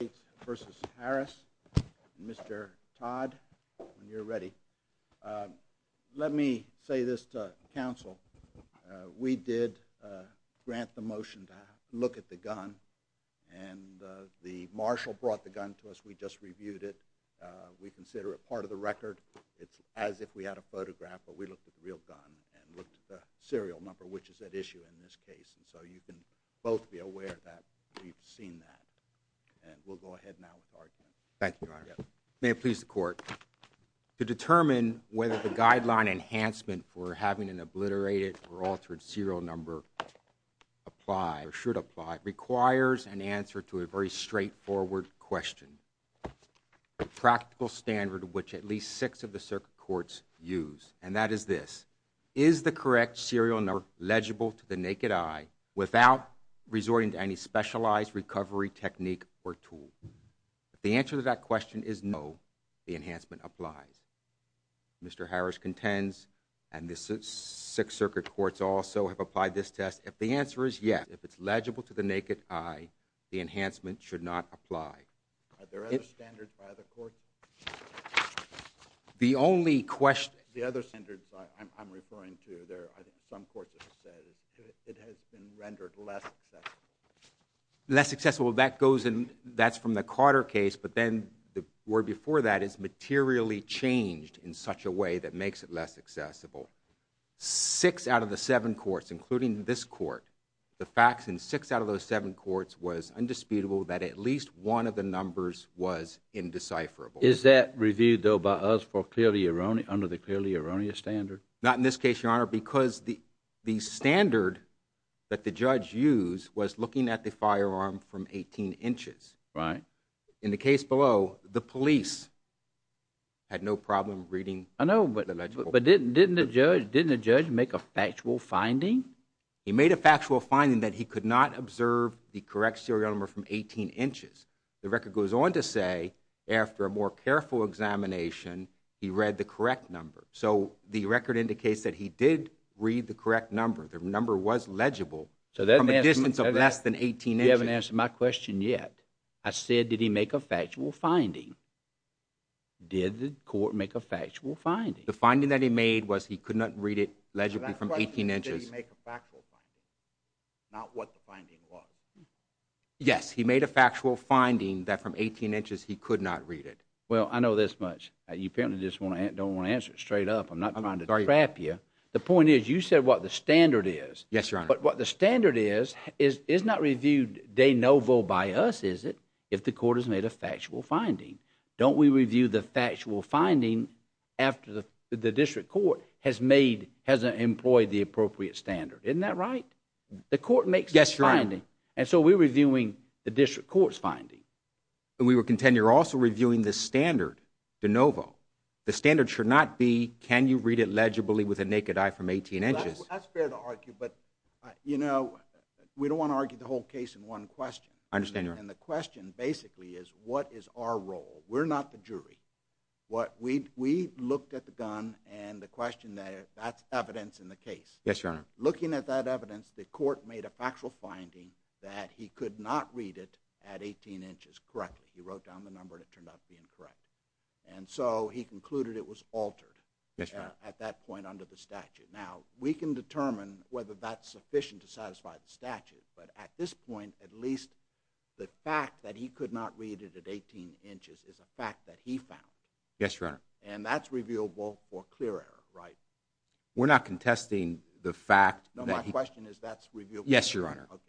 and Mr. Todd when you're ready. Let me say this to counsel. We did grant the motion to look at the gun and the marshal brought the gun to us. We just reviewed it. We consider it part of the record. It's as if we had a photograph but we looked at the real gun and looked at the serial number which is at issue in this case and so you can both be aware that we've seen that and we'll go ahead now. Thank you. May it please the court. To determine whether the guideline enhancement for having an obliterated or altered serial number apply or should apply requires an answer to a very straightforward question. A practical standard which at least six of the circuit courts use and that is this. Is the correct serial number legible to the naked eye without resorting to any specialized recovery technique or tool? The answer to that question is no. The enhancement applies. Mr. Harris contends and this is six circuit courts also have applied this test. If the answer is yes, if it's legible to the naked eye, the enhancement should not apply. Are there other standards by other courts? The only question. The other standards I'm referring to there, I think some courts have said it has been rendered less accessible. Less accessible, that goes in, that's from the Carter case but then the word before that is materially changed in such a way that makes it less accessible. Six out of the seven courts including this court, the facts in six out of those seven courts was indisputable that at least one of the numbers was indecipherable. Is that reviewed though by us for clearly erroneous, under the clearly erroneous standard? Not in this case, your honor, because the standard that the judge used was looking at the firearm from 18 inches. Right. In the case below, the police had no problem reading the legible. I know, but didn't the judge make a factual finding? He made a factual finding that he could not observe the correct serial number from 18 inches. The record goes on to say after a more careful examination, he read the correct number. So the record indicates that he did read the correct number. The number was legible from a distance of less than 18 inches. You haven't answered my question yet. I said, did he make a factual finding? Did the court make a factual finding? The finding that he made was he could not read it legibly from 18 inches. So that question is, did he make a factual finding, not what the finding was? Yes, he made a factual finding that from 18 inches he could not read it. Well, I know this much. You apparently just don't want to answer it straight up. I'm not trying to trap you. The point is, you said what the standard is. Yes, your honor. But what the standard is, is not reviewed de novo by us, is it, if the court has made a factual finding? Don't we review the factual finding after the district court has made, has employed the appropriate standard? Isn't that right? The court makes a finding. Yes, your honor. And so we're reviewing the district court's finding. And we would contend you're also reviewing the standard de novo. The standard should not be, can you read it legibly with a naked eye from 18 inches? That's fair to argue, but, you know, we don't want to argue the whole case in one question. I understand, your honor. And the question basically is, what is our role? We're not the jury. We looked at the gun and the question there, that's evidence in the case. Yes, your honor. Looking at that evidence, the court made a factual finding that he could not read it at 18 inches correctly. He wrote down the number and it turned out to be incorrect. And so he concluded it was altered at that point under the statute. But at this point, at least the fact that he could not read it at 18 inches is a fact that he found. Yes, your honor. And that's reviewable for clear error, right? We're not contesting the fact. No, my question is that's reviewable. Yes, your honor. Okay.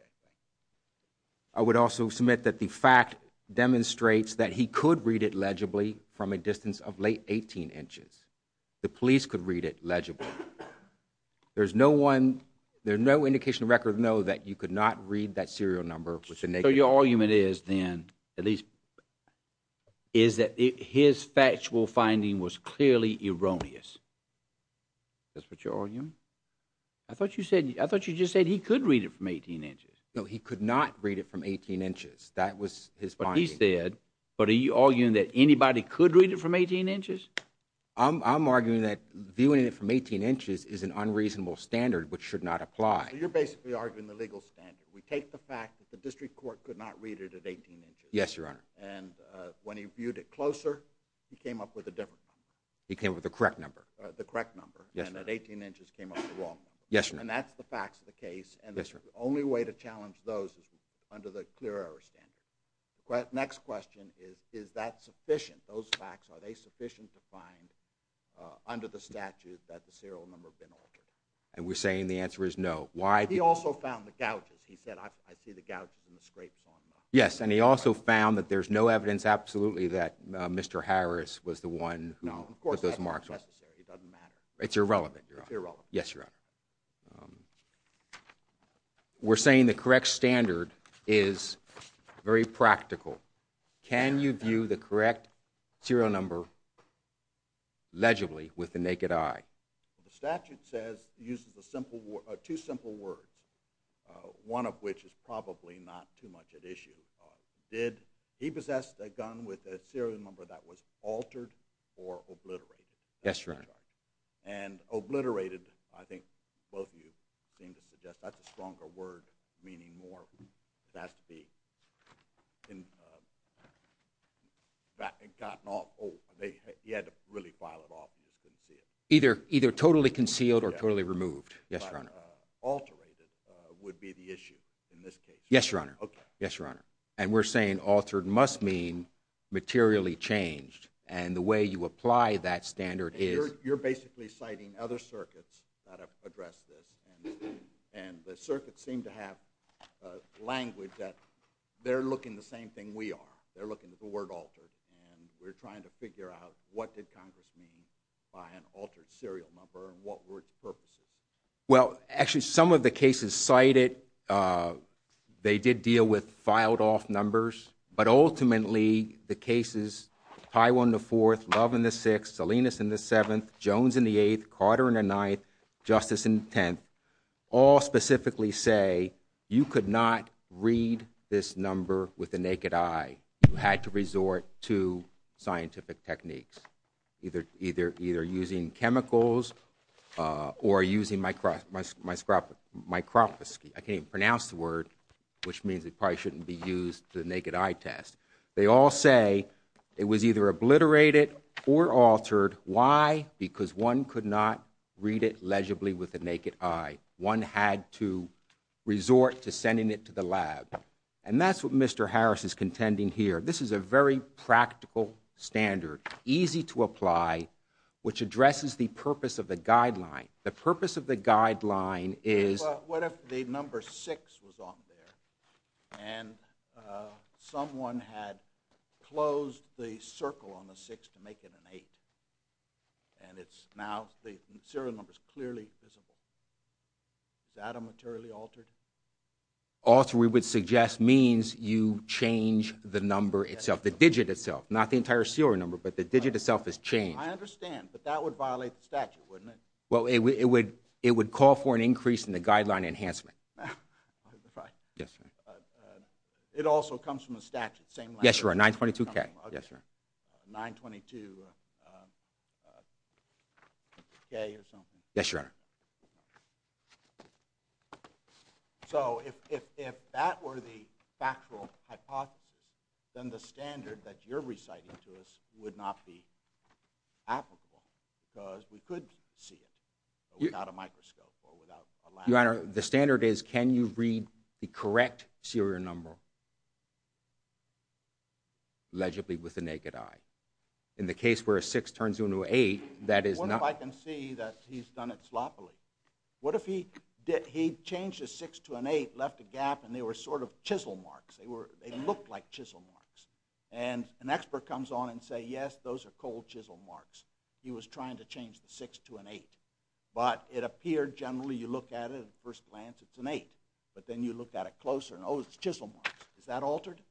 I would also submit that the fact demonstrates that he could read it legibly from a distance of late 18 inches. The police could read it legibly. There's no one, there's no indication of record, no, that you could not read that serial number. So your argument is then, at least, is that his factual finding was clearly erroneous. Is that what you're arguing? I thought you said, I thought you just said he could read it from 18 inches. No, he could not read it from 18 inches. That was his finding. But he said, but are you arguing that anybody could read it from 18 inches? I'm arguing that viewing it from 18 inches is an unreasonable standard which should not apply. So you're basically arguing the legal standard. We take the fact that the district court could not read it at 18 inches. Yes, your honor. And when he viewed it closer, he came up with a different number. He came up with the correct number. The correct number. Yes, your honor. And at 18 inches came up with the wrong number. Yes, your honor. And that's the facts of the case. Yes, your honor. And the only way to challenge those is under the clear error standard. Next question is, is that sufficient? Those facts, are they sufficient to find under the statute that the serial number been altered? And we're saying the answer is no. Why? He also found the gouges. He said, I see the gouges and the scrapes on them. Yes, and he also found that there's no evidence absolutely that Mr. Harris was the one who put those marks on. No, of course, that's not necessary. It doesn't matter. It's irrelevant, your honor. It's irrelevant. Yes, your honor. We're saying the correct standard is very practical. Can you view the correct serial number legibly with the naked eye? The statute says, uses two simple words, one of which is probably not too much at issue. He possessed a gun with a serial number that was altered or obliterated. Yes, your honor. And obliterated, I think both of you seem to suggest that's a stronger word, meaning more. It has to be gotten off. He had to really file it off. Either totally concealed or totally removed. Yes, your honor. Alterated would be the issue in this case. Yes, your honor. Yes, your honor. And we're saying altered must mean materially changed. And the way you apply that standard is. You're basically citing other circuits that have addressed this. And the circuits seem to have language that they're looking the same thing we are. They're looking at the word altered. And we're trying to figure out what did Congress mean by an altered serial number and what were its purposes. Well, actually, some of the cases cited, they did deal with filed off numbers. But ultimately, the cases, Tywell in the fourth, Love in the sixth, Salinas in the seventh, Jones in the eighth, Carter in the ninth, Justice in the tenth. All specifically say, you could not read this number with the naked eye. You had to resort to scientific techniques. Either using chemicals or using microscopy. I can't even pronounce the word, which means it probably shouldn't be used to the naked eye test. They all say it was either obliterated or altered. Why? Because one could not read it legibly with the naked eye. One had to resort to sending it to the lab. And that's what Mr. Harris is contending here. This is a very practical standard, easy to apply, which addresses the purpose of the guideline. The purpose of the guideline is. Well, what if the number six was on there and someone had closed the circle on the six to make it an eight? And it's now the serial number is clearly visible. Is that a materially altered? Alter, we would suggest, means you change the number itself, the digit itself. Not the entire serial number, but the digit itself is changed. I understand. But that would violate the statute, wouldn't it? Well, it would call for an increase in the guideline enhancement. Right. Yes, sir. It also comes from the statute. Yes, sir. 922K. Yes, sir. 922K or something. Yes, sir. Yes, sir. So if that were the factual hypothesis, then the standard that you're reciting to us would not be applicable. Because we could see it without a microscope or without a lab. Your Honor, the standard is can you read the correct serial number? Allegedly with the naked eye. In the case where a six turns into an eight, that is not. What if I can see that he's done it sloppily? What if he changed a six to an eight, left a gap, and they were sort of chisel marks? They looked like chisel marks. And an expert comes on and says, yes, those are cold chisel marks. He was trying to change the six to an eight. But it appeared generally you look at it at first glance, it's an eight. But then you look at it closer, and oh, it's chisel marks. Is that altered?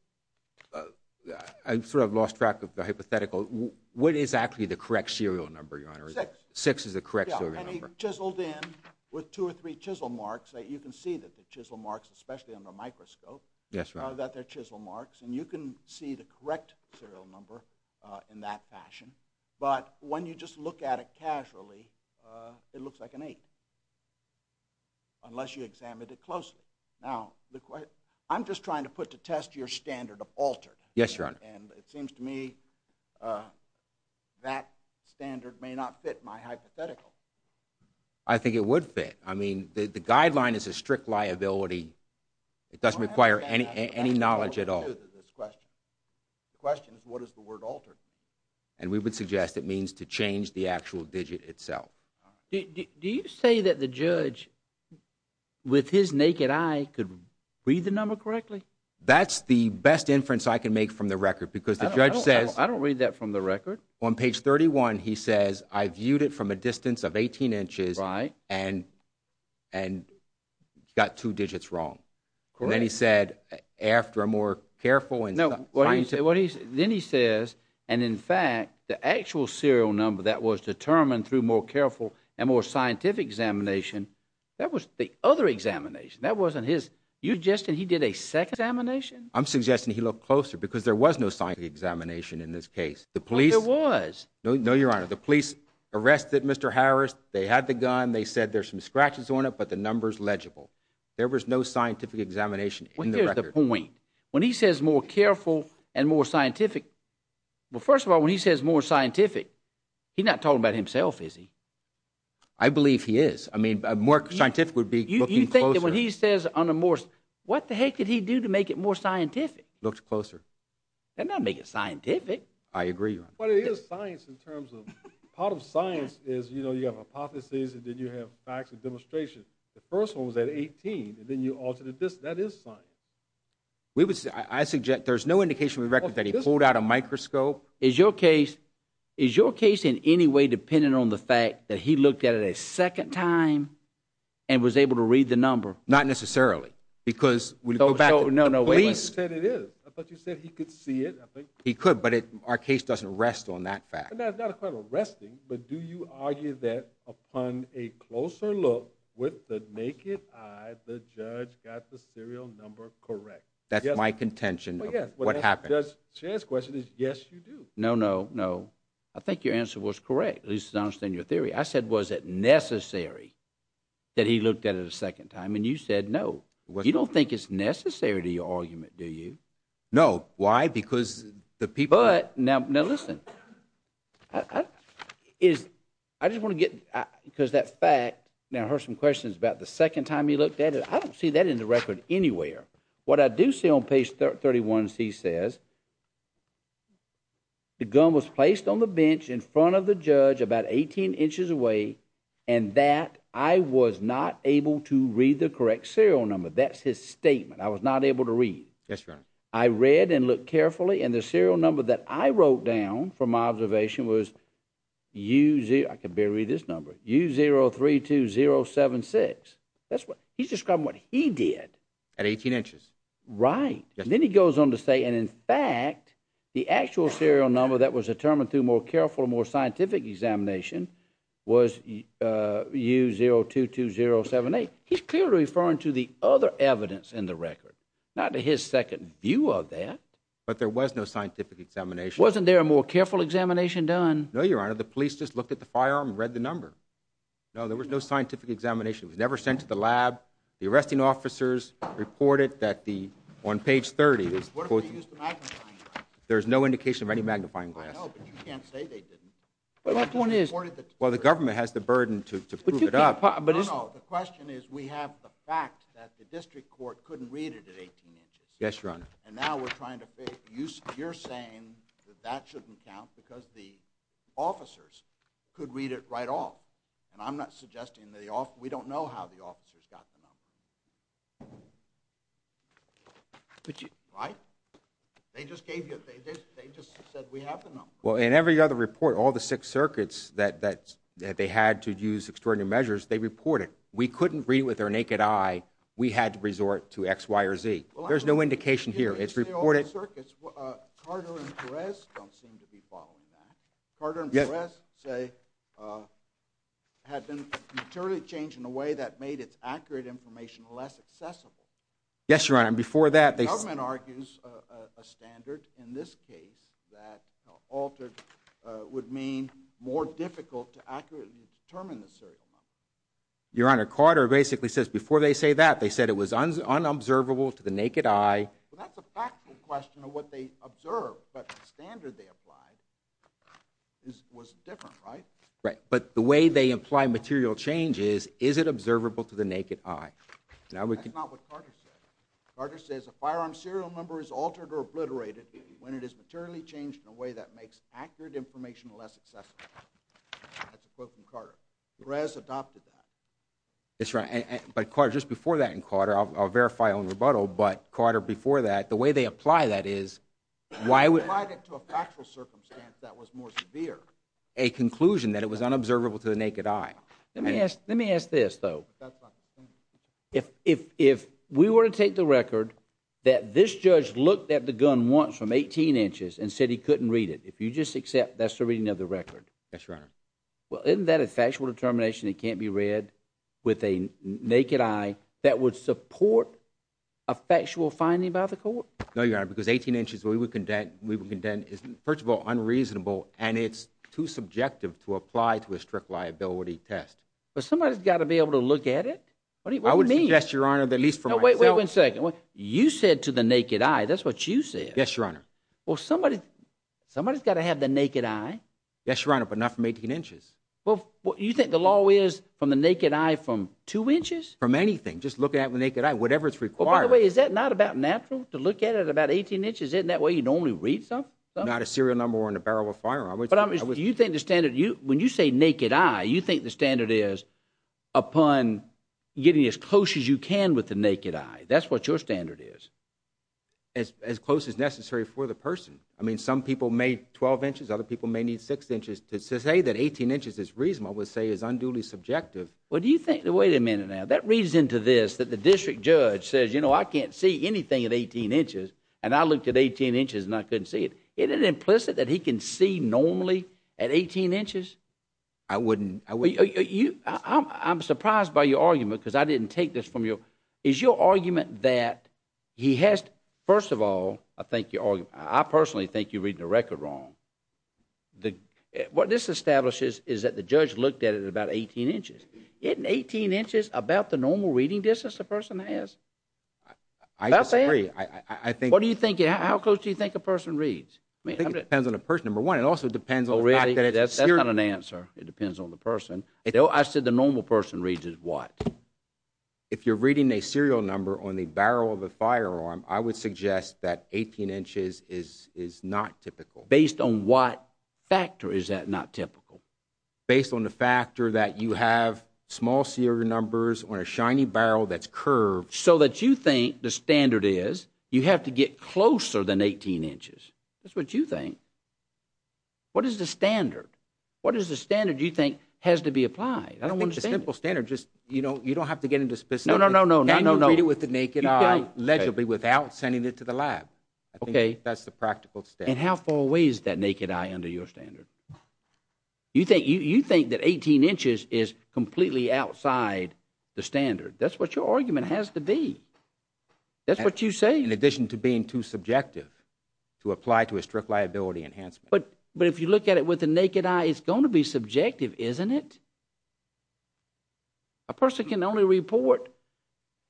I sort of lost track of the hypothetical. What is actually the correct serial number, Your Honor? Six. Six is the correct serial number. Yeah, and he chiseled in with two or three chisel marks. You can see the chisel marks, especially under a microscope. Yes, Your Honor. That they're chisel marks. And you can see the correct serial number in that fashion. But when you just look at it casually, it looks like an eight, unless you examined it closely. Yes, Your Honor. And it seems to me that standard may not fit my hypothetical. I think it would fit. I mean, the guideline is a strict liability. It doesn't require any knowledge at all. The question is, what is the word altered? And we would suggest it means to change the actual digit itself. Do you say that the judge, with his naked eye, could read the number correctly? That's the best inference I can make from the record because the judge says I don't read that from the record. On page 31, he says, I viewed it from a distance of 18 inches and got two digits wrong. Correct. And then he said, after a more careful and scientific Then he says, and in fact, the actual serial number that was determined through more careful and more scientific examination, that was the other examination. That wasn't his. You're suggesting he did a second examination? I'm suggesting he looked closer because there was no scientific examination in this case. There was. No, Your Honor. The police arrested Mr. Harris. They had the gun. They said there's some scratches on it, but the number's legible. There was no scientific examination in the record. Well, here's the point. When he says more careful and more scientific, well, first of all, when he says more scientific, he's not talking about himself, is he? I believe he is. I mean, more scientific would be looking closer. And when he says on a more, what the heck did he do to make it more scientific? Looked closer. That doesn't make it scientific. I agree, Your Honor. But it is science in terms of, part of science is, you know, you have hypotheses, and then you have facts and demonstrations. The first one was at 18, and then you altered it. That is science. I suggest there's no indication in the record that he pulled out a microscope. Is your case in any way dependent on the fact that he looked at it a second time and was able to read the number? Not necessarily. Because when you go back to the police... So, no, no, wait a minute. You said it is. I thought you said he could see it. He could, but our case doesn't rest on that fact. That's not a crime of arresting, but do you argue that upon a closer look, with the naked eye, the judge got the serial number correct? That's my contention of what happened. Well, yes. The judge's question is, yes, you do. No, no, no. I think your answer was correct, at least as I understand your theory. I said, was it necessary that he looked at it a second time? And you said, no. You don't think it's necessary to your argument, do you? No. Why? Because the people... But, now listen. I just want to get... Because that fact... Now, I heard some questions about the second time he looked at it. I don't see that in the record anywhere. What I do see on page 31c says, the gun was placed on the bench in front of the judge, about 18 inches away, and that I was not able to read the correct serial number. That's his statement. I was not able to read. Yes, Your Honor. I read and looked carefully, and the serial number that I wrote down from my observation was U0... I can barely read this number. U032076. He's describing what he did. At 18 inches. Right. Then he goes on to say, and in fact, the actual serial number that was determined through more careful and more scientific examination was U022078. He's clearly referring to the other evidence in the record, not to his second view of that. But there was no scientific examination. Wasn't there a more careful examination done? No, Your Honor. The police just looked at the firearm and read the number. No, there was no scientific examination. It was never sent to the lab. The arresting officers reported that on page 30... What if they used the magnifying glass? There's no indication of any magnifying glass. I know, but you can't say they didn't. Well, the government has the burden to prove it up. No, no. The question is, we have the fact that the district court couldn't read it at 18 inches. Yes, Your Honor. And now we're trying to figure... You're saying that that shouldn't count because the officers could read it right off. And I'm not suggesting... We don't know how the officers got the number. Right? They just gave you... They just said, we have the number. Well, in every other report, all the six circuits that they had to use extraordinary measures, they reported. We couldn't read it with our naked eye. We had to resort to X, Y, or Z. There's no indication here. It's reported... Carter and Perez don't seem to be following that. Carter and Perez say, had been materially changed in a way that made its accurate information less accessible. Yes, Your Honor. And before that... The government argues a standard in this case that altered would mean more difficult to accurately determine the serial number. Your Honor, Carter basically says, before they say that, they said it was unobservable to the naked eye. Well, that's a factual question of what they observed, but the standard they applied was different, right? Right. But the way they imply material change is, is it observable to the naked eye? That's not what Carter said. Carter says a firearm serial number is altered or obliterated when it is materially changed in a way that makes accurate information less accessible. That's a quote from Carter. Perez adopted that. That's right. But Carter, just before that, and Carter, I'll verify on rebuttal, but Carter, before that, the way they apply that is... They applied it to a factual circumstance that was more severe, a conclusion that it was unobservable to the naked eye. Let me ask this, though. If we were to take the record that this judge looked at the gun once from 18 inches and said he couldn't read it, if you just accept that's the reading of the record... Yes, Your Honor. Well, isn't that a factual determination that can't be read with a naked eye that would support a factual finding by the court? No, Your Honor, because 18 inches, we would condemn is, first of all, unreasonable, and it's too subjective to apply to a strict liability test. But somebody's got to be able to look at it. What do you mean? I would suggest, Your Honor, that at least for myself... No, wait, wait a second. You said to the naked eye, that's what you said. Yes, Your Honor. Well, somebody's got to have the naked eye. Yes, Your Honor, but not from 18 inches. Well, you think the law is from the naked eye from 2 inches? From anything. Just look at it with the naked eye, whatever's required. By the way, is that not about natural, to look at it at about 18 inches? Isn't that the way you normally read something? Not a serial number or in a barrel of firearm. But you think the standard, when you say naked eye, you think the standard is upon getting as close as you can with the naked eye. That's what your standard is. As close as necessary for the person. I mean, some people may 12 inches, other people may need 6 inches. To say that 18 inches is reasonable would say is unduly subjective. Well, do you think, wait a minute now, that reads into this that the district judge says, you know, I can't see anything at 18 inches, and I looked at 18 inches and I couldn't see it. Isn't it implicit that he can see normally at 18 inches? I wouldn't. I'm surprised by your argument, because I didn't take this from you. Is your argument that he has to, first of all, I think your argument, I personally think you're reading the record wrong. What this establishes is that the judge looked at it at about 18 inches. Isn't 18 inches about the normal reading distance a person has? I disagree. What do you think, how close do you think a person reads? I think it depends on the person, number one. It also depends on the fact that it's a serial number. That's not an answer. It depends on the person. I said the normal person reads is what? If you're reading a serial number on the barrel of a firearm, I would suggest that 18 inches is not typical. Based on what factor is that not typical? Based on the factor that you have small serial numbers on a shiny barrel that's curved. So that you think the standard is you have to get closer than 18 inches. That's what you think. What is the standard? What is the standard you think has to be applied? I don't understand it. I think the simple standard, you don't have to get into specifics. No, no, no. Can you read it with the naked eye, allegedly, without sending it to the lab? Okay. I think that's the practical standard. And how far away is that naked eye under your standard? You think that 18 inches is completely outside the standard. That's what your argument has to be. That's what you say. In addition to being too subjective to apply to a strict liability enhancement. But if you look at it with the naked eye, it's going to be subjective, isn't it? A person can only report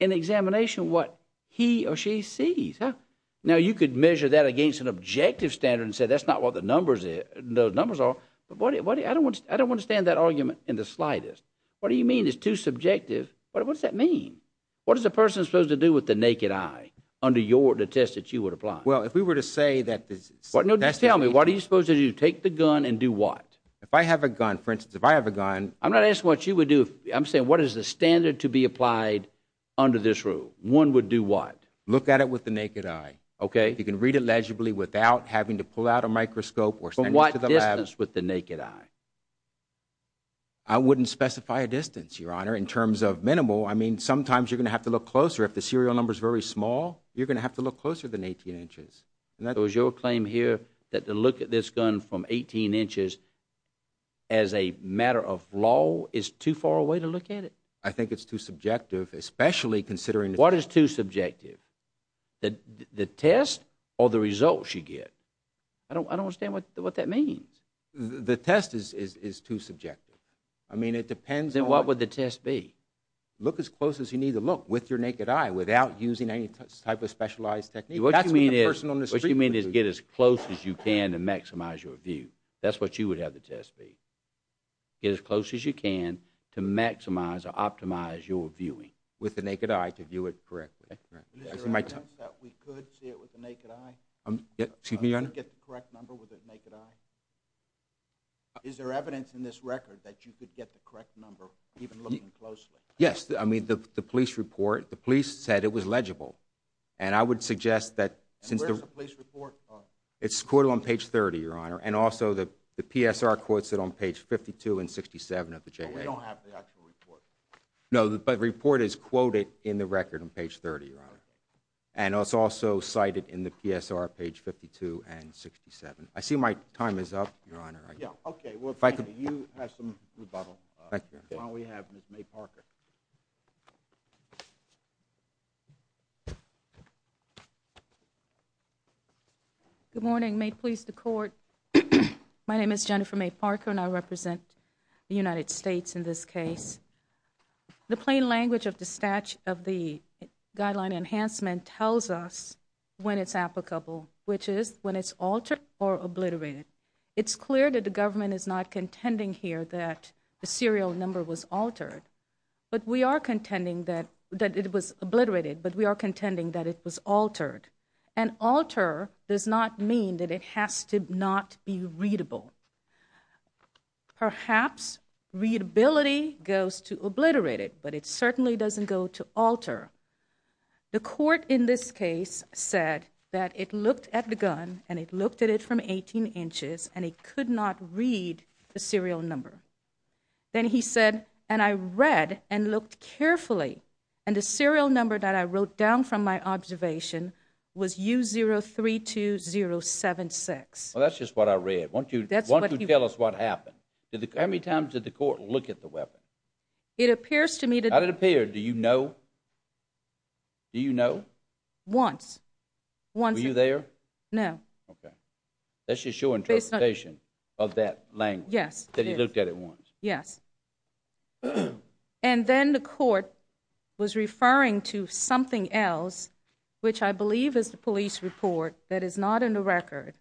an examination of what he or she sees. Now, you could measure that against an objective standard and say that's not what the numbers are. I don't understand that argument in the slightest. What do you mean it's too subjective? What does that mean? What is a person supposed to do with the naked eye under the test that you would apply? Well, if we were to say that this is... Just tell me, what are you supposed to do? Take the gun and do what? If I have a gun, for instance, if I have a gun... I'm not asking what you would do. I'm saying what is the standard to be applied under this rule? One would do what? Look at it with the naked eye. You can read it legibly without having to pull out a microscope or send it to the lab. But what distance with the naked eye? I wouldn't specify a distance, Your Honor, in terms of minimal. I mean, sometimes you're going to have to look closer. If the serial number is very small, you're going to have to look closer than 18 inches. So is your claim here that the look at this gun from 18 inches as a matter of law is too far away to look at it? I think it's too subjective, especially considering... What is too subjective? The test or the results you get? I don't understand what that means. The test is too subjective. I mean, it depends on... Look as close as you need to look with your naked eye without using any type of specialized technique. What you mean is get as close as you can to maximize your view. That's what you would have the test be. Get as close as you can to maximize or optimize your viewing with the naked eye to view it correctly. Is there evidence that we could see it with the naked eye? Excuse me, Your Honor? Get the correct number with the naked eye? Is there evidence in this record that you could get the correct number even looking closely? Yes, I mean, the police report, the police said it was legible. And I would suggest that since... Where's the police report? It's quoted on page 30, Your Honor, and also the PSR quotes it on page 52 and 67 of the JA. But we don't have the actual report. No, but the report is quoted in the record on page 30, Your Honor. And it's also cited in the PSR page 52 and 67. I see my time is up, Your Honor. Okay, you have some rebuttal while we have Ms. May Parker. Good morning. May it please the Court, my name is Jennifer May Parker, and I represent the United States in this case. The plain language of the Statute of the Guideline Enhancement tells us when it's applicable, which is when it's altered or obliterated. It's clear that the government is not contending here that the serial number was altered. But we are contending that it was obliterated, but we are contending that it was altered. And alter does not mean that it has to not be readable. Perhaps readability goes to obliterated, but it certainly doesn't go to alter. The court in this case said that it looked at the gun and it looked at it from 18 inches and it could not read the serial number. Then he said, and I read and looked carefully, and the serial number that I wrote down from my observation was U032076. Well, that's just what I read. Why don't you tell us what happened? How many times did the court look at the weapon? It appears to me that... How did it appear? Do you know? Do you know? Once. Were you there? No. Okay. That's just your interpretation of that language that he looked at it once. Yes. And then the court was referring to something else, which I believe is the police report that is not in the record,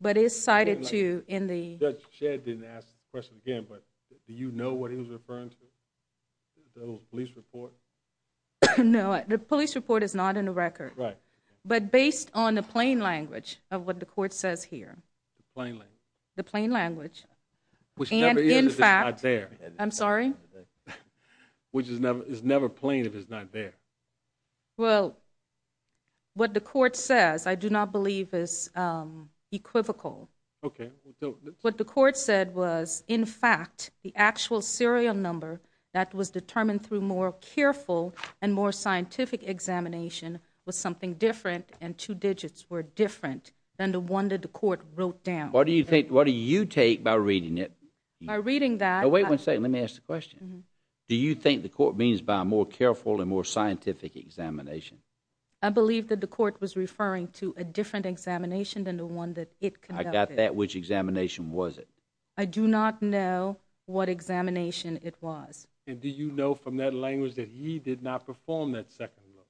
but is cited to in the... Judge Shedd didn't ask the question again, but do you know what he was referring to? The police report? No, the police report is not in the record. Right. But based on the plain language of what the court says here. The plain language? The plain language. Which never is if it's not there. I'm sorry? Which is never plain if it's not there. Well, what the court says I do not believe is equivocal. Okay. What the court said was, in fact, the actual serial number that was determined through more careful and more scientific examination was something different and two digits were different than the one that the court wrote down. What do you take by reading it? By reading that... Wait one second. Let me ask the question. Do you think the court means by more careful and more scientific examination? I believe that the court was referring to a different examination than the one that it conducted. I got that. Which examination was it? I do not know what examination it was. And do you know from that language that he did not perform that second look?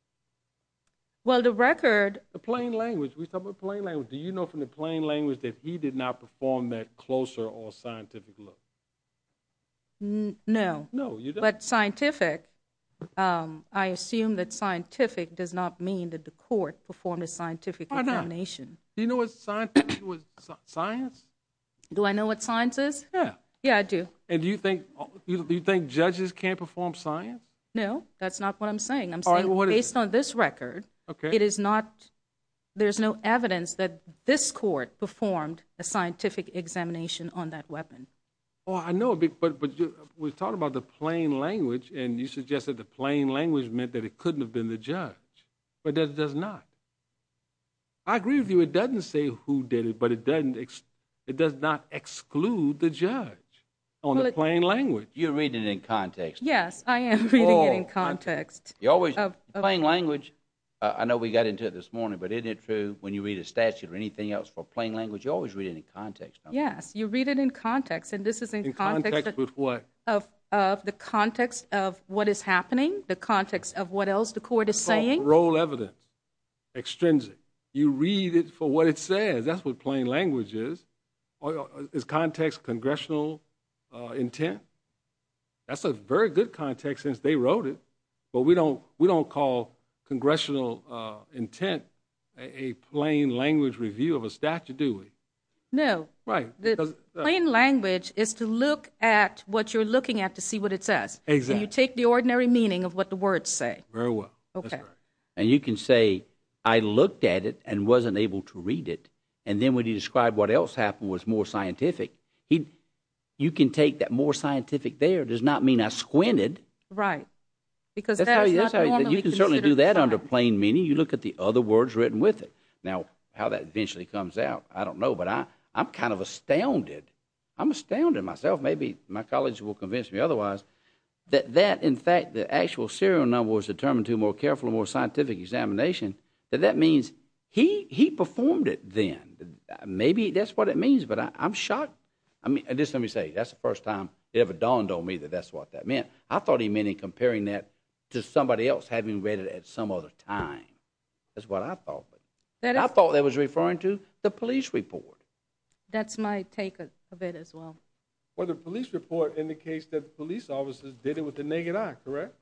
Well, the record... The plain language. We're talking about plain language. Do you know from the plain language that he did not perform that closer or scientific look? No. No, you don't. But scientific, I assume that scientific does not mean that the court performed a scientific examination. Why not? Do you know what science is? Do I know what science is? Yeah. Yeah, I do. And do you think judges can't perform science? No, that's not what I'm saying. Based on this record, it is not... There's no evidence that this court performed a scientific examination on that weapon. Oh, I know. But we're talking about the plain language, and you suggested the plain language meant that it couldn't have been the judge. But it does not. I agree with you. It doesn't say who did it, but it does not exclude the judge. You're reading it in context. Yes, I am reading it in context. Plain language, I know we got into it this morning, but isn't it true when you read a statute or anything else for plain language, you always read it in context, don't you? Yes, you read it in context. And this is in context of the context of what is happening, the context of what else the court is saying. It's not parole evidence, extrinsic. You read it for what it says. That's what plain language is. Is context congressional intent? That's a very good context since they wrote it, but we don't call congressional intent a plain language review of a statute, do we? No. Right. Plain language is to look at what you're looking at to see what it says. Exactly. And you take the ordinary meaning of what the words say. Very well. Okay. And you can say, I looked at it and wasn't able to read it, and then when you describe what else happened was more scientific, you can take that more scientific there does not mean I squinted. Right. Because that's not normally considered fine. You can certainly do that under plain meaning. You look at the other words written with it. Now, how that eventually comes out, I don't know, but I'm kind of astounded. I'm astounded myself. Maybe my colleagues will convince me otherwise, that in fact the actual serial number was determined to a more careful and more scientific examination, that that means he performed it then. Maybe that's what it means, but I'm shocked. I mean, just let me say, that's the first time it ever dawned on me that that's what that meant. I thought he meant in comparing that to somebody else having read it at some other time. That's what I thought. I thought that was referring to the police report. That's my take of it as well. Well, the police report indicates that police officers did it with the naked eye, correct?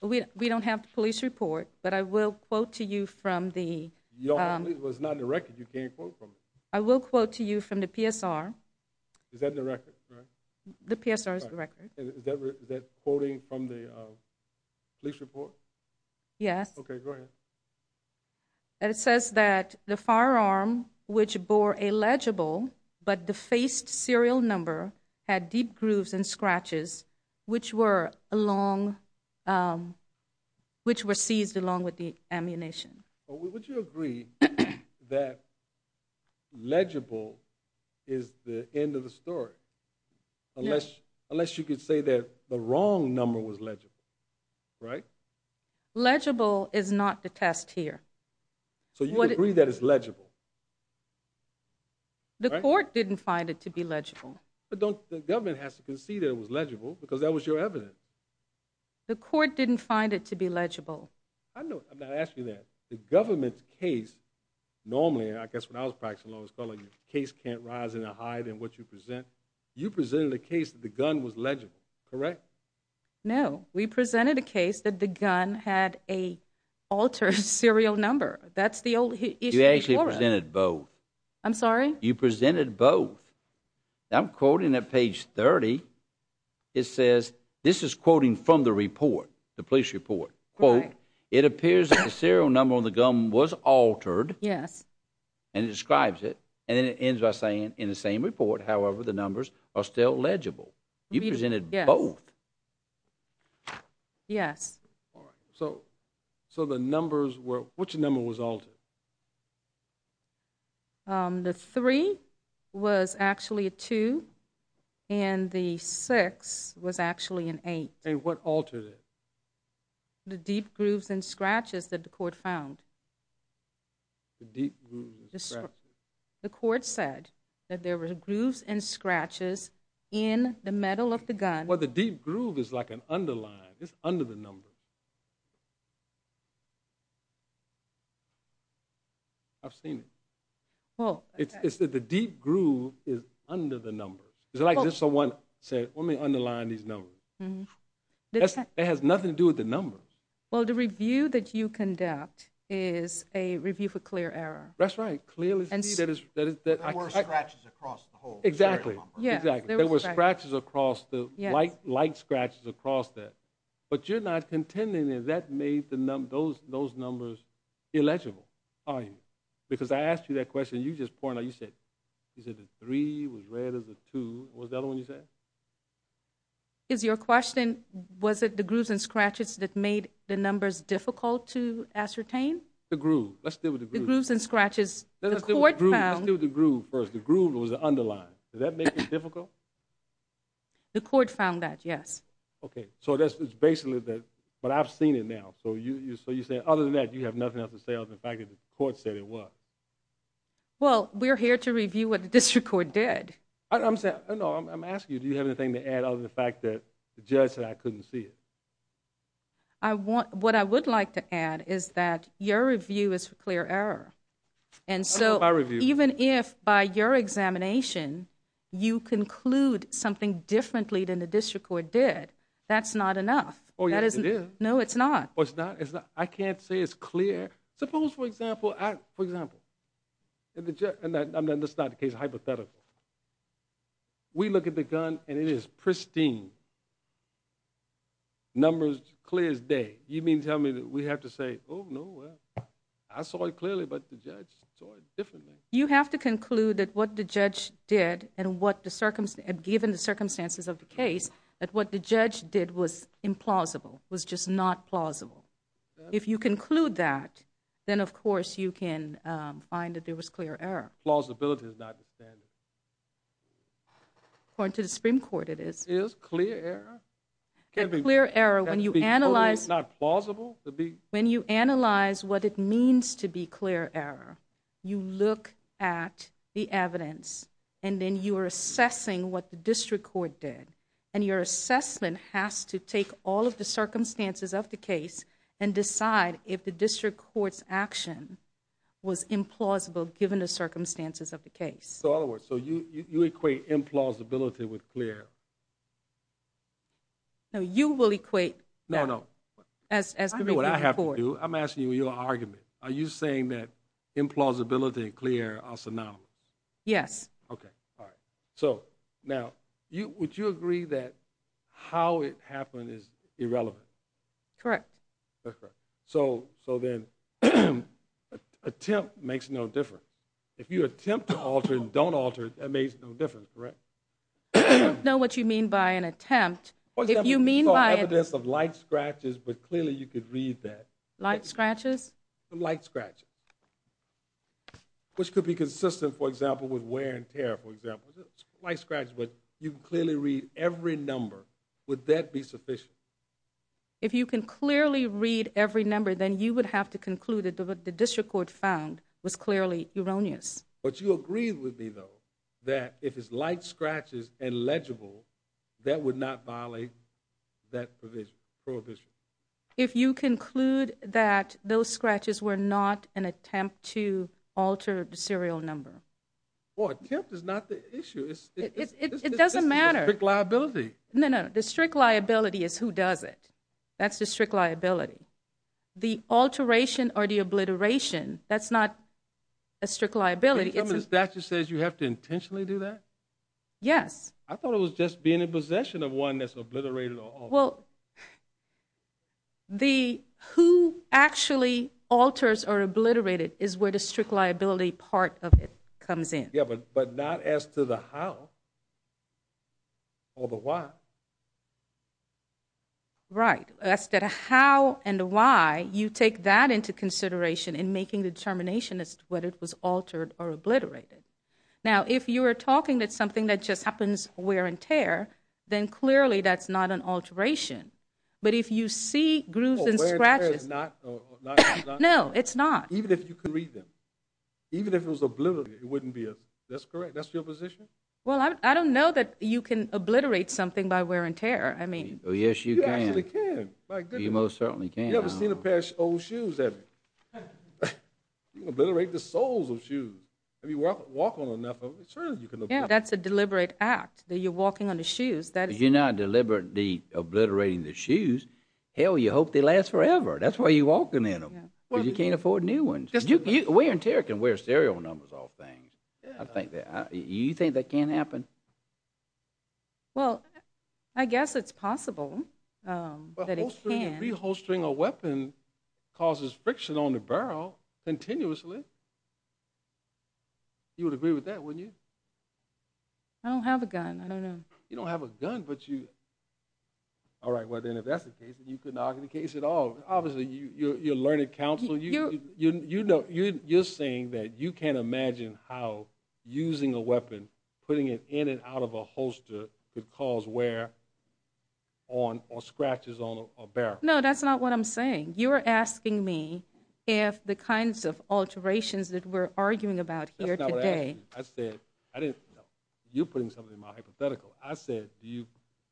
We don't have the police report, but I will quote to you from the... It was not in the record. You can't quote from it. I will quote to you from the PSR. Is that in the record? The PSR is the record. Is that quoting from the police report? Yes. Okay, go ahead. And it says that the firearm, which bore a legible but defaced serial number, had deep grooves and scratches, which were seized along with the ammunition. Would you agree that legible is the end of the story? Yes. Unless you could say that the wrong number was legible, right? Legible is not the test here. So you agree that it's legible? The court didn't find it to be legible. The government has to concede that it was legible, because that was your evidence. The court didn't find it to be legible. I know. I'm not asking that. The government's case normally, I guess when I was practicing law, it's called a case can't rise in a hide in what you present. You presented a case that the gun was legible, correct? No. We presented a case that the gun had a altered serial number. That's the old issue. You actually presented both. I'm sorry? You presented both. I'm quoting at page 30. It says, this is quoting from the report, the police report. Quote, it appears that the serial number on the gun was altered. Yes. And it describes it. And then it ends by saying, in the same report, however, the numbers are still legible. You presented both. Yes. All right. So the numbers were, which number was altered? The 3 was actually a 2. And the 6 was actually an 8. And what altered it? The deep grooves and scratches that the court found. The deep grooves and scratches. The court said that there were grooves and scratches in the metal of the gun. Well, the deep groove is like an underline. It's under the number. I've seen it. Well, it's that the deep groove is under the number. It's like if someone said, let me underline these numbers. It has nothing to do with the number. Well, the review that you conduct is a review for clear error. That's right. Clearly, that is that. There were scratches across the whole serial number. Exactly. Yeah. Exactly. There were scratches across the, light scratches across that. But you're not contending that that made those numbers illegible, are you? Because I asked you that question. You just pointed out, you said the 3 was read as a 2. What was the other one you said? Is your question, was it the grooves and scratches that made the numbers difficult to ascertain? The groove. Let's deal with the groove. The grooves and scratches. Let's deal with the groove first. The groove was the underline. Did that make it difficult? The court found that, yes. Okay. So it's basically that, but I've seen it now. So you say, other than that, you have nothing else to say other than the fact that the court said it was. Well, we're here to review what the district court did. I'm asking you, do you have anything to add other than the fact that the judge said I couldn't see it? What I would like to add is that your review is for clear error. And so, even if by your examination, you conclude something differently than the district court did, that's not enough. Oh, yes, it is. No, it's not. I can't say it's clear. Suppose, for example, that's not the case, hypothetical. We look at the gun, and it is pristine. Numbers clear as day. You mean to tell me that we have to say, oh, no, I saw it clearly, but the judge saw it differently. You have to conclude that what the judge did, and given the circumstances of the case, that what the judge did was implausible, was just not plausible. If you conclude that, then, of course, you can find that there was clear error. Plausibility is not the standard. According to the Supreme Court, it is. Is clear error? A clear error, when you analyze what it means to be clear error, you look at the evidence, and then you are assessing what the district court did. And your assessment has to take all of the circumstances of the case and decide if the district court's action was implausible, given the circumstances of the case. So, in other words, so you equate implausibility with clear error? No, you will equate that. No, no. That's what I have to do. I'm asking you your argument. Are you saying that implausibility and clear error are synonymous? Yes. Okay, all right. So, now, would you agree that how it happened is irrelevant? Correct. That's correct. So then attempt makes no difference. If you attempt to alter it and don't alter it, that makes no difference, correct? I don't know what you mean by an attempt. For example, you saw evidence of light scratches, but clearly you could read that. Light scratches? Light scratches. Which could be consistent, for example, with wear and tear, for example. Light scratches, but you can clearly read every number. Would that be sufficient? If you can clearly read every number, then you would have to conclude that what the district court found was clearly erroneous. But you agree with me, though, that if it's light scratches and legible, that would not violate that provision, prohibition? If you conclude that those scratches were not an attempt to alter the serial number. Well, attempt is not the issue. It doesn't matter. It's a strict liability. No, no, the strict liability is who does it. That's the strict liability. The alteration or the obliteration, that's not a strict liability. Can you tell me the statute says you have to intentionally do that? Yes. I thought it was just being in possession of one that's obliterated or altered. Well, the who actually alters or obliterated is where the strict liability part of it comes in. Yeah, but not as to the how or the why. Right. As to the how and the why, you take that into consideration in making the determination as to whether it was altered or obliterated. Now, if you are talking that something that just happens wear and tear, then clearly that's not an alteration. But if you see grooves and scratches. No, it's not. Even if you can read them. Even if it was obliterated, it wouldn't be. That's correct. That's your position? Well, I don't know that you can obliterate something by wear and tear. I mean. Oh, yes, you can. You actually can. By goodness. You most certainly can. You ever seen a pair of old shoes, have you? You can obliterate the soles of shoes. Have you walked on enough of them? Yeah, that's a deliberate act. That you're walking on the shoes. You're not deliberately obliterating the shoes. Hell, you hope they last forever. That's why you're walking in them. Because you can't afford new ones. Wear and tear can wear serial numbers off things. I think that. You think that can happen? Well, I guess it's possible that it can. But reholstering a weapon causes friction on the barrel continuously. You would agree with that, wouldn't you? I don't have a gun. I don't know. You don't have a gun, but you. All right, well, then, if that's the case, then you can argue the case at all. Obviously, you're learning counsel. You're saying that you can't imagine how using a weapon, putting it in and out of a holster could cause wear or scratches on a barrel. No, that's not what I'm saying. You're asking me if the kinds of alterations that we're arguing about here today. You're putting something in my hypothetical. I said, do you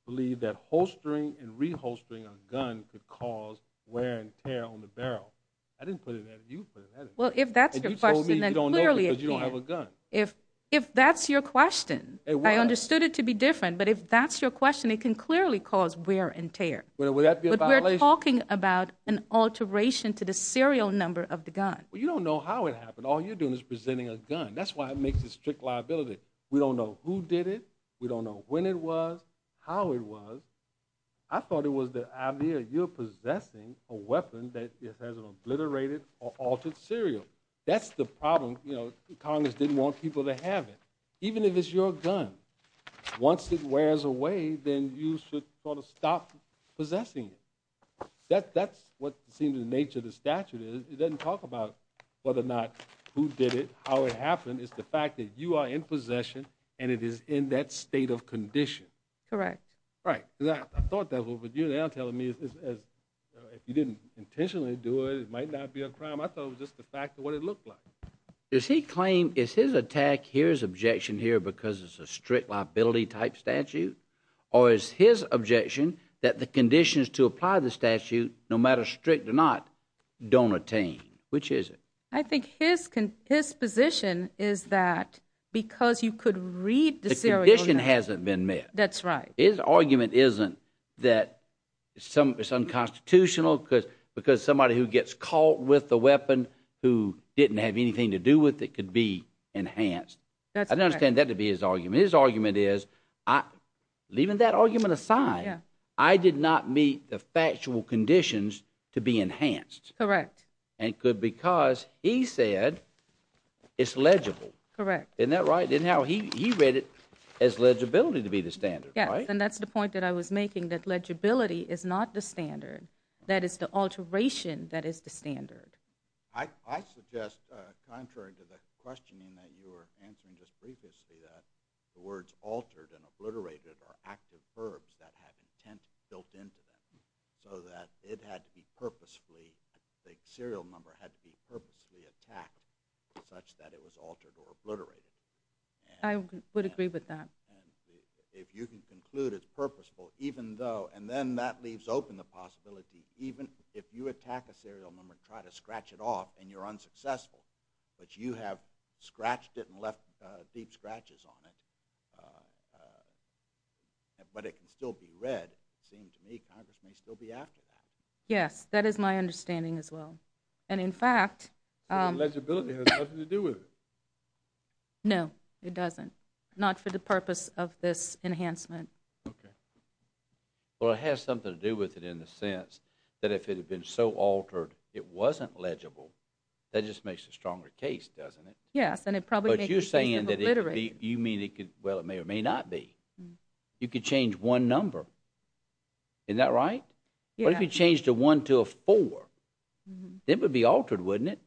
believe that holstering and reholstering a gun could cause wear and tear on the barrel? I didn't put it that way. You put it that way. Well, if that's your question, then clearly it can. Because you don't have a gun. If that's your question, I understood it to be different. But if that's your question, it can clearly cause wear and tear. Would that be a violation? But we're talking about an alteration to the serial number of the gun. Well, you don't know how it happened. All you're doing is presenting a gun. That's why it makes a strict liability. We don't know who did it. We don't know when it was, how it was. I thought it was the idea you're possessing a weapon that has an obliterated or altered serial. That's the problem. Congress didn't want people to have it. Even if it's your gun, once it wears away, then you should sort of stop possessing it. That's what it seems the nature of the statute is. It doesn't talk about whether or not who did it, how it happened. It's the fact that you are in possession and it is in that state of condition. Correct. Right. I thought that was what you were telling me. If you didn't intentionally do it, it might not be a crime. I thought it was just the fact of what it looked like. Does he claim, is his attack, here's his objection here because it's a strict liability type statute? Or is his objection that the conditions to apply the statute, no matter strict or not, don't attain? Which is it? I think his position is that because you could read the serial number. The condition hasn't been met. That's right. His argument isn't that it's unconstitutional because somebody who gets caught with the weapon who didn't have anything to do with it could be enhanced. I don't understand that to be his argument. His argument is, leaving that argument aside, I did not meet the factual conditions to be enhanced. Correct. Because he said it's legible. Correct. Isn't that right? He read it as legibility to be the standard. Yes, and that's the point that I was making, that legibility is not the standard. That is the alteration that is the standard. I suggest, contrary to the questioning that you were answering just previously, that the words altered and obliterated are active verbs that have intent built into them so that it had to be purposefully, the serial number had to be purposefully attacked such that it was altered or obliterated. I would agree with that. If you can conclude it's purposeful, even though, and then that leaves open the possibility, even if you attack a serial number and try to scratch it off and you're unsuccessful, but you have scratched it and left deep scratches on it, but it can still be read. It seems to me Congress may still be after that. Yes, that is my understanding as well. And in fact... But legibility has nothing to do with it. No, it doesn't. Not for the purpose of this enhancement. Okay. Well, it has something to do with it in the sense that if it had been so altered it wasn't legible, that just makes a stronger case, doesn't it? Yes, and it probably... But you're saying that it could be, you mean it could, well, it may or may not be. You could change one number. Isn't that right? What if you changed a one to a four? It would be altered, wouldn't it?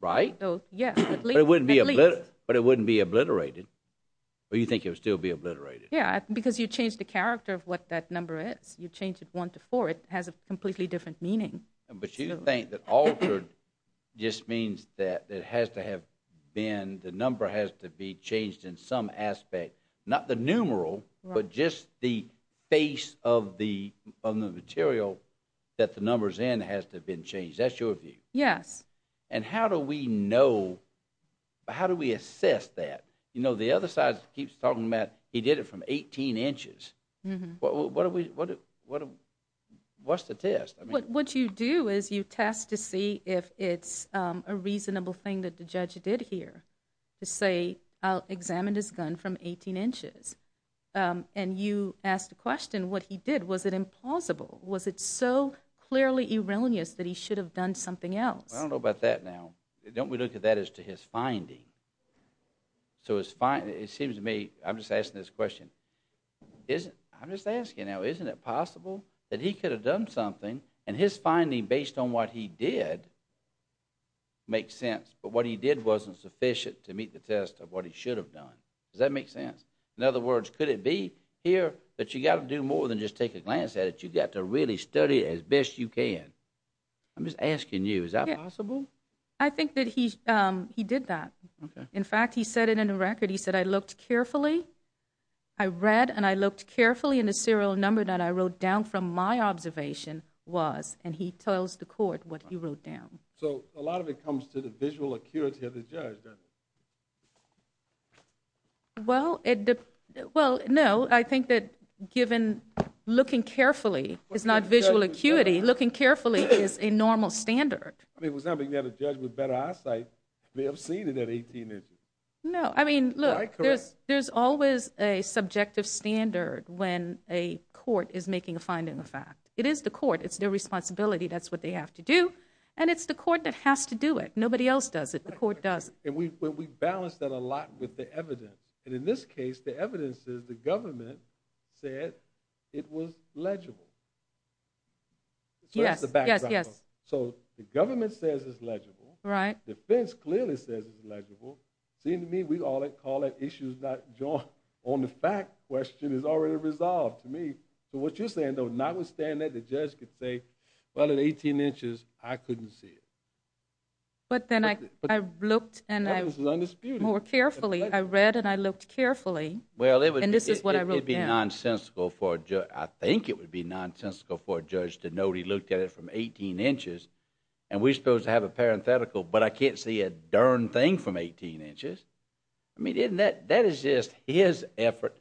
Right? Yes, at least. But it wouldn't be obliterated. Or you think it would still be obliterated? Yeah, because you change the character of what that number is. You change it one to four. It has a completely different meaning. But you think that altered just means that it has to have been, the number has to be changed in some aspect. Not the numeral, but just the face of the material that the number's in has to have been changed. That's your view? Yes. And how do we know, how do we assess that? You know, the other side keeps talking about he did it from 18 inches. What's the test? What you do is you test to see if it's a reasonable thing that the judge did here. To say, I'll examine this gun from 18 inches. And you ask the question, what he did, was it implausible? Was it so clearly erroneous that he should have done something else? I don't know about that now. Don't we look at that as to his finding? So it seems to me, I'm just asking this question, I'm just asking now, isn't it possible that he could have done something, and his finding based on what he did makes sense, but what he did wasn't sufficient to meet the test of what he should have done. Does that make sense? In other words, could it be here that you've got to do more than just take a glance at it? You've got to really study it as best you can. I'm just asking you, is that possible? I think that he did that. In fact, he said it in the record, he said, I looked carefully, I read and I looked carefully in the serial number that I wrote down from my observation was, and he tells the court what he wrote down. So a lot of it comes to the visual acuity of the judge, doesn't it? Well, no, I think that given looking carefully is not visual acuity, looking carefully is a normal standard. It was something that a judge with better eyesight may have seen in that 18 inches. No, I mean, look, there's always a subjective standard when a court is making a finding of fact. It is the court, it's their responsibility, that's what they have to do, and it's the court that has to do it. Nobody else does it, the court does it. And we balance that a lot with the evidence. And in this case, the evidence is the government said it was legible. Yes, yes, yes. So the government says it's legible. Right. The defense clearly says it's legible. It seems to me we all call it issues not joined. Now, on the fact question is already resolved to me. So what you're saying, though, notwithstanding that, the judge could say, well, in 18 inches, I couldn't see it. But then I looked and I read and I looked carefully, and this is what I wrote down. It would be nonsensical for a judge, I think it would be nonsensical for a judge to know he looked at it from 18 inches, and we're supposed to have a parenthetical, but I can't see a darn thing from 18 inches. I mean, isn't that, that is just his effort,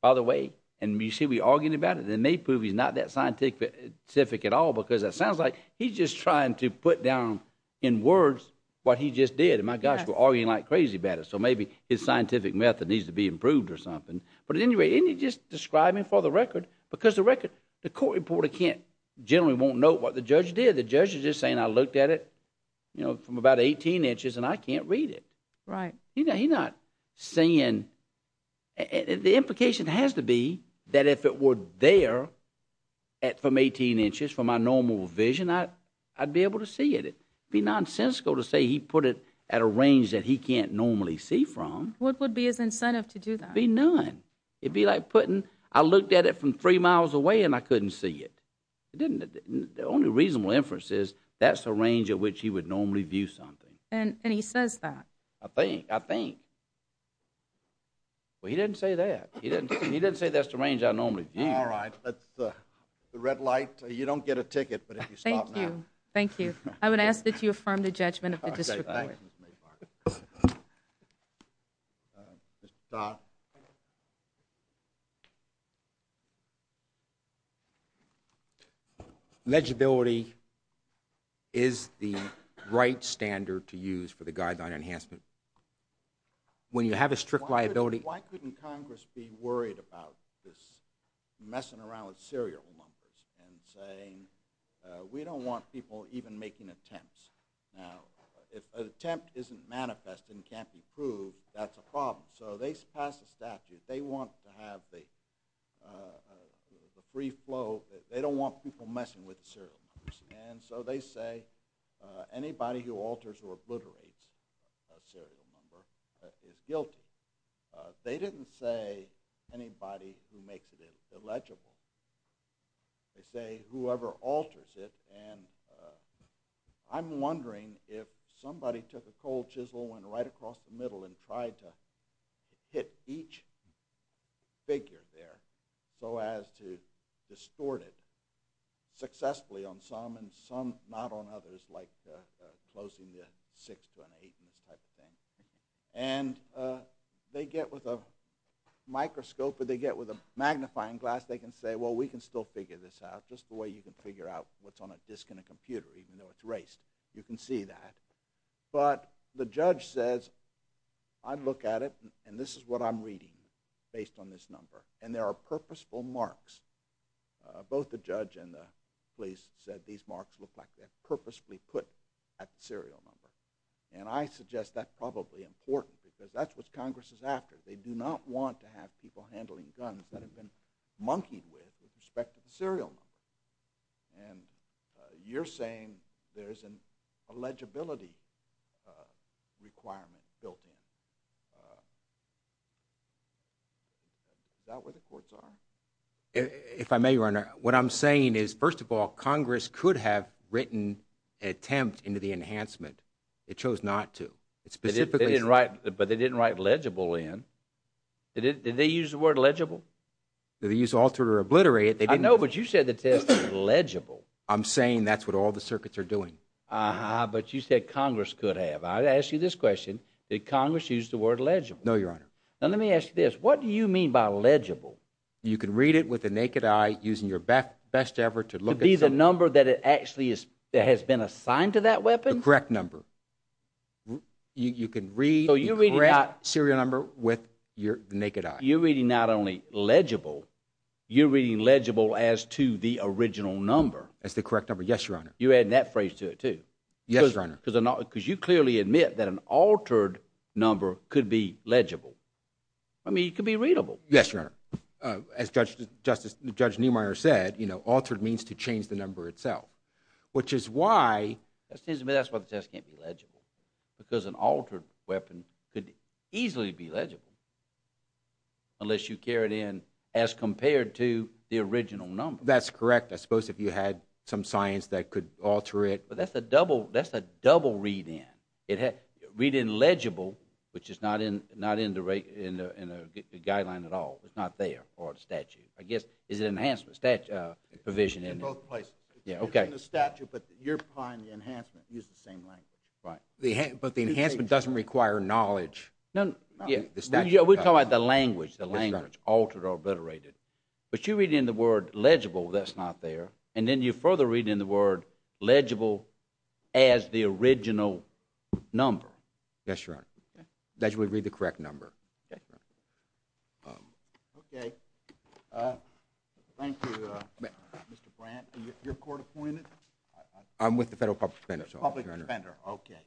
by the way. And you see, we're arguing about it, and they prove he's not that scientific at all because it sounds like he's just trying to put down in words what he just did. And my gosh, we're arguing like crazy about it. So maybe his scientific method needs to be improved or something. But at any rate, isn't he just describing for the record? Because the record, the court reporter can't, generally won't note what the judge did. The judge is just saying I looked at it, you know, from about 18 inches and I can't read it. Right. He's not saying, the implication has to be that if it were there from 18 inches from my normal vision, I'd be able to see it. It'd be nonsensical to say he put it at a range that he can't normally see from. What would be his incentive to do that? It'd be none. It'd be like putting, I looked at it from three miles away and I couldn't see it. The only reasonable inference is that's the range at which he would normally view something. And he says that. I think, I think. Well, he didn't say that. He didn't say that's the range I normally view. All right. That's the red light. You don't get a ticket, but if you stop now. Thank you. Thank you. I would ask that you affirm the judgment of the district court. Okay, thanks, Ms. Maybach. Mr. Stott. Thank you. Legibility is the right standard to use for the guideline enhancement. When you have a strict liability. Why couldn't Congress be worried about this messing around with serial numbers and saying, we don't want people even making attempts. Now, if an attempt isn't manifest and can't be proved, that's a problem. So they pass a statute. They want to have the free flow. They don't want people messing with the serial numbers. And so they say anybody who alters or obliterates a serial number is guilty. They didn't say anybody who makes it illegible. They say whoever alters it. And I'm wondering if somebody took a cold chisel and went right across the middle and tried to hit each figure there so as to distort it successfully on some and some not on others like closing the six to an eight and this type of thing. And they get with a microscope or they get with a magnifying glass, they can say, well, we can still figure this out. Just the way you can figure out what's on a disc in a computer even though it's erased. You can see that. But the judge says, I'd look at it and this is what I'm reading based on this number. And there are purposeful marks. Both the judge and the police said these marks look like they're purposefully put at the serial number. And I suggest that's probably important because that's what Congress is after. They do not want to have people handling guns that have been monkeyed with with respect to the serial number. And you're saying there's an eligibility requirement built in. Is that what the courts are? If I may, Your Honor, what I'm saying is, first of all, Congress could have written an attempt into the enhancement. It chose not to. But they didn't write legible in. Did they use the word legible? Did they use alter or obliterate? I know, but you said the test was legible. I'm saying that's what all the circuits are doing. But you said Congress could have. I ask you this question. Did Congress use the word legible? No, Your Honor. Now, let me ask you this. What do you mean by legible? You can read it with the naked eye using your best effort to look at the number that it actually has been assigned to that weapon. The correct number. You can read the correct serial number with your naked eye. You're reading not only legible, you're reading legible as to the original number. As the correct number. Yes, Your Honor. You're adding that phrase to it, too. Yes, Your Honor. Because you clearly admit that an altered number could be legible. I mean, it could be readable. Yes, Your Honor. As Judge Neumeier said, altered means to change the number itself, which is why the test can't be legible. Because an altered weapon could easily be legible unless you carry it in as compared to the original number. That's correct. I suppose if you had some science that could alter it. But that's a double read-in. Read-in legible, which is not in the guideline at all. It's not there for the statute. I guess, is it an enhancement provision? In both places. Okay. In the statute, but you're applying the enhancement. Use the same language. Right. But the enhancement doesn't require knowledge. No, no. We're talking about the language, the language, altered or obliterated. But you read in the word legible, that's not there. And then you further read in the word legible as the original number. Yes, Your Honor. That you would read the correct number. Okay. Okay. Thank you, Mr. Brandt. Are you court-appointed? I'm with the Federal Public Defender. Public Defender, okay.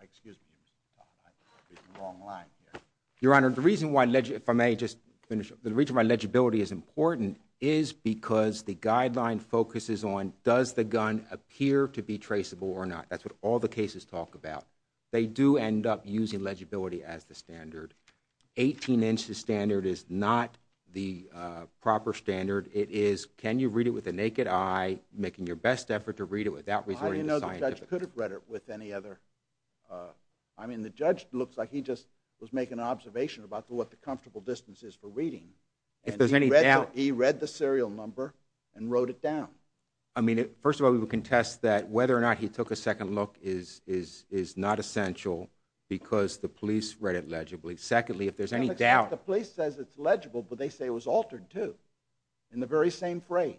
Excuse me. I'm reading the wrong line here. Your Honor, the reason why, if I may just finish, the reason why legibility is important is because the guideline focuses on does the gun appear to be traceable or not. That's what all the cases talk about. They do end up using legibility as the standard. 18 inches standard is not the proper standard. It is can you read it with the naked eye, making your best effort to read it without resorting to scientific evidence. The judge could have read it with any other... I mean, the judge looks like he just was making an observation about what the comfortable distance is for reading. If there's any doubt... He read the serial number and wrote it down. I mean, first of all, we would contest that whether or not he took a second look is not essential because the police read it legibly. Secondly, if there's any doubt... The police says it's legible, but they say it was altered, too, in the very same phrase.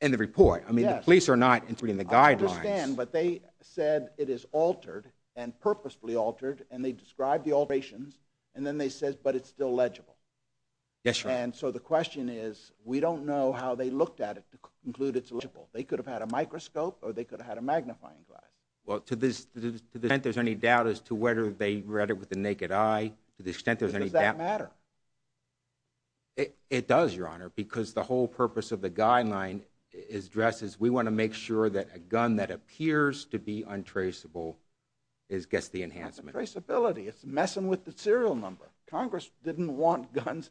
In the report. I mean, the police are not interpreting the guidelines. I understand, but they said it is altered and purposefully altered, and they described the alterations, and then they said, but it's still legible. Yes, Your Honor. And so the question is, we don't know how they looked at it to conclude it's legible. They could have had a microscope or they could have had a magnifying glass. Well, to the extent there's any doubt as to whether they read it with the naked eye, to the extent there's any doubt... Does that matter? It does, Your Honor, because the whole purpose of the guideline is addressed as we want to make sure that a gun that appears to be untraceable gets the enhancement. Untraceability. It's messing with the serial number. Congress didn't want guns...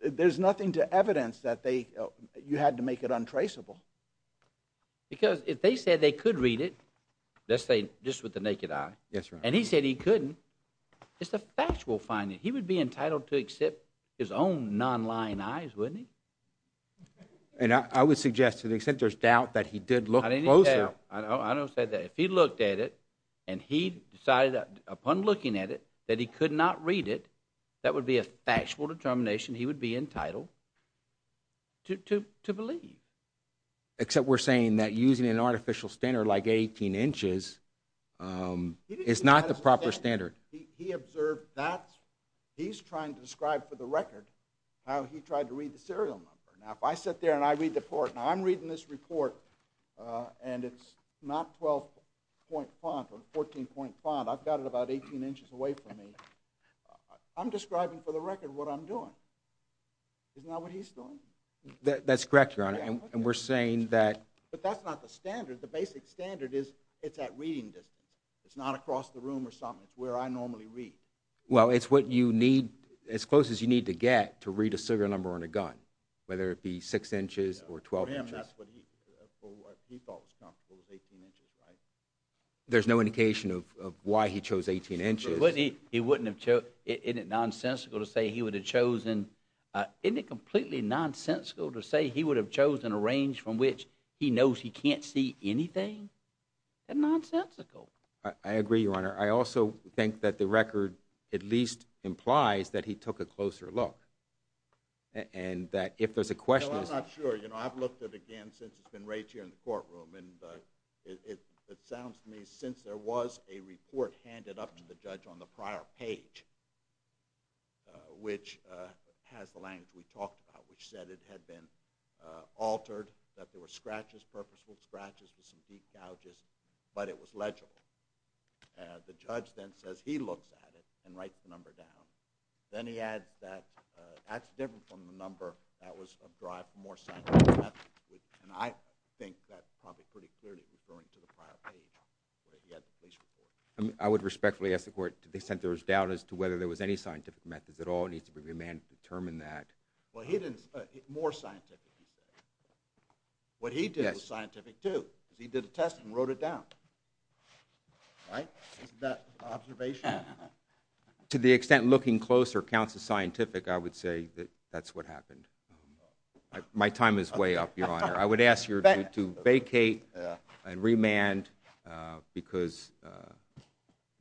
There's nothing to evidence that you had to make it untraceable. Because if they said they could read it, let's say just with the naked eye, and he said he couldn't, it's a factual finding. He would be entitled to accept his own non-lying eyes, wouldn't he? And I would suggest to the extent there's doubt that he did look closer... I didn't say that. I don't say that. If he looked at it and he decided upon looking at it that he could not read it, that would be a factual determination he would be entitled to believe. Except we're saying that using an artificial standard like 18 inches is not the proper standard. He observed that. He's trying to describe for the record how he tried to read the serial number. Now, if I sit there and I read the report... Now, I'm reading this report, and it's not 12-point font or 14-point font. I've got it about 18 inches away from me. I'm describing for the record what I'm doing. Isn't that what he's doing? That's correct, Your Honor. And we're saying that... But that's not the standard. The basic standard is it's at reading distance. It's not across the room or something. It's where I normally read. Well, it's what you need... to read a serial number on a gun, whether it be 6 inches or 12 inches. For him, that's what he... What he thought was comfortable was 18 inches, right? There's no indication of why he chose 18 inches. But wouldn't he... He wouldn't have chosen... Isn't it nonsensical to say he would have chosen... Isn't it completely nonsensical to say he would have chosen a range from which he knows he can't see anything? That's nonsensical. I agree, Your Honor. I also think that the record at least implies that he took a closer look, and that if there's a question... No, I'm not sure. You know, I've looked at it again since it's been raised here in the courtroom, and it sounds to me since there was a report handed up to the judge on the prior page which has the language we talked about, which said it had been altered, that there were scratches, purposeful scratches with some deep gouges, but it was legible. The judge then says he looks at it and writes the number down. Then he adds that that's different from the number that was derived from more scientific methods. And I think that's probably pretty clearly referring to the prior page where he had the case report. I would respectfully ask the court to dissent there was doubt as to whether there was any scientific methods at all and he needs to be remanded to determine that. Well, he didn't... More scientific instead. What he did was scientific too. He did a test and wrote it down. Right? Isn't that an observation? To the extent looking closer counts as scientific, I would say that that's what happened. My time is way up, Your Honor. I would ask you to vacate and remand because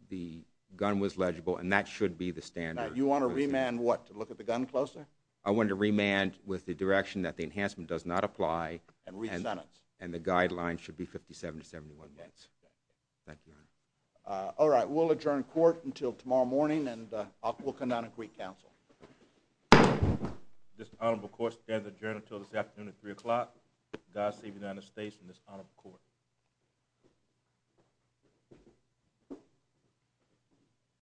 the gun was legible and that should be the standard. You want to remand what? To look at the gun closer? I want to remand with the direction that the enhancement does not apply. And resent it. And the guidelines should be 57 to 71 minutes. Thank you, Your Honor. All right. We'll adjourn court until tomorrow morning and we'll come down and greet counsel. This honorable court stands adjourned until this afternoon at 3 o'clock. God save the United States and this honorable court.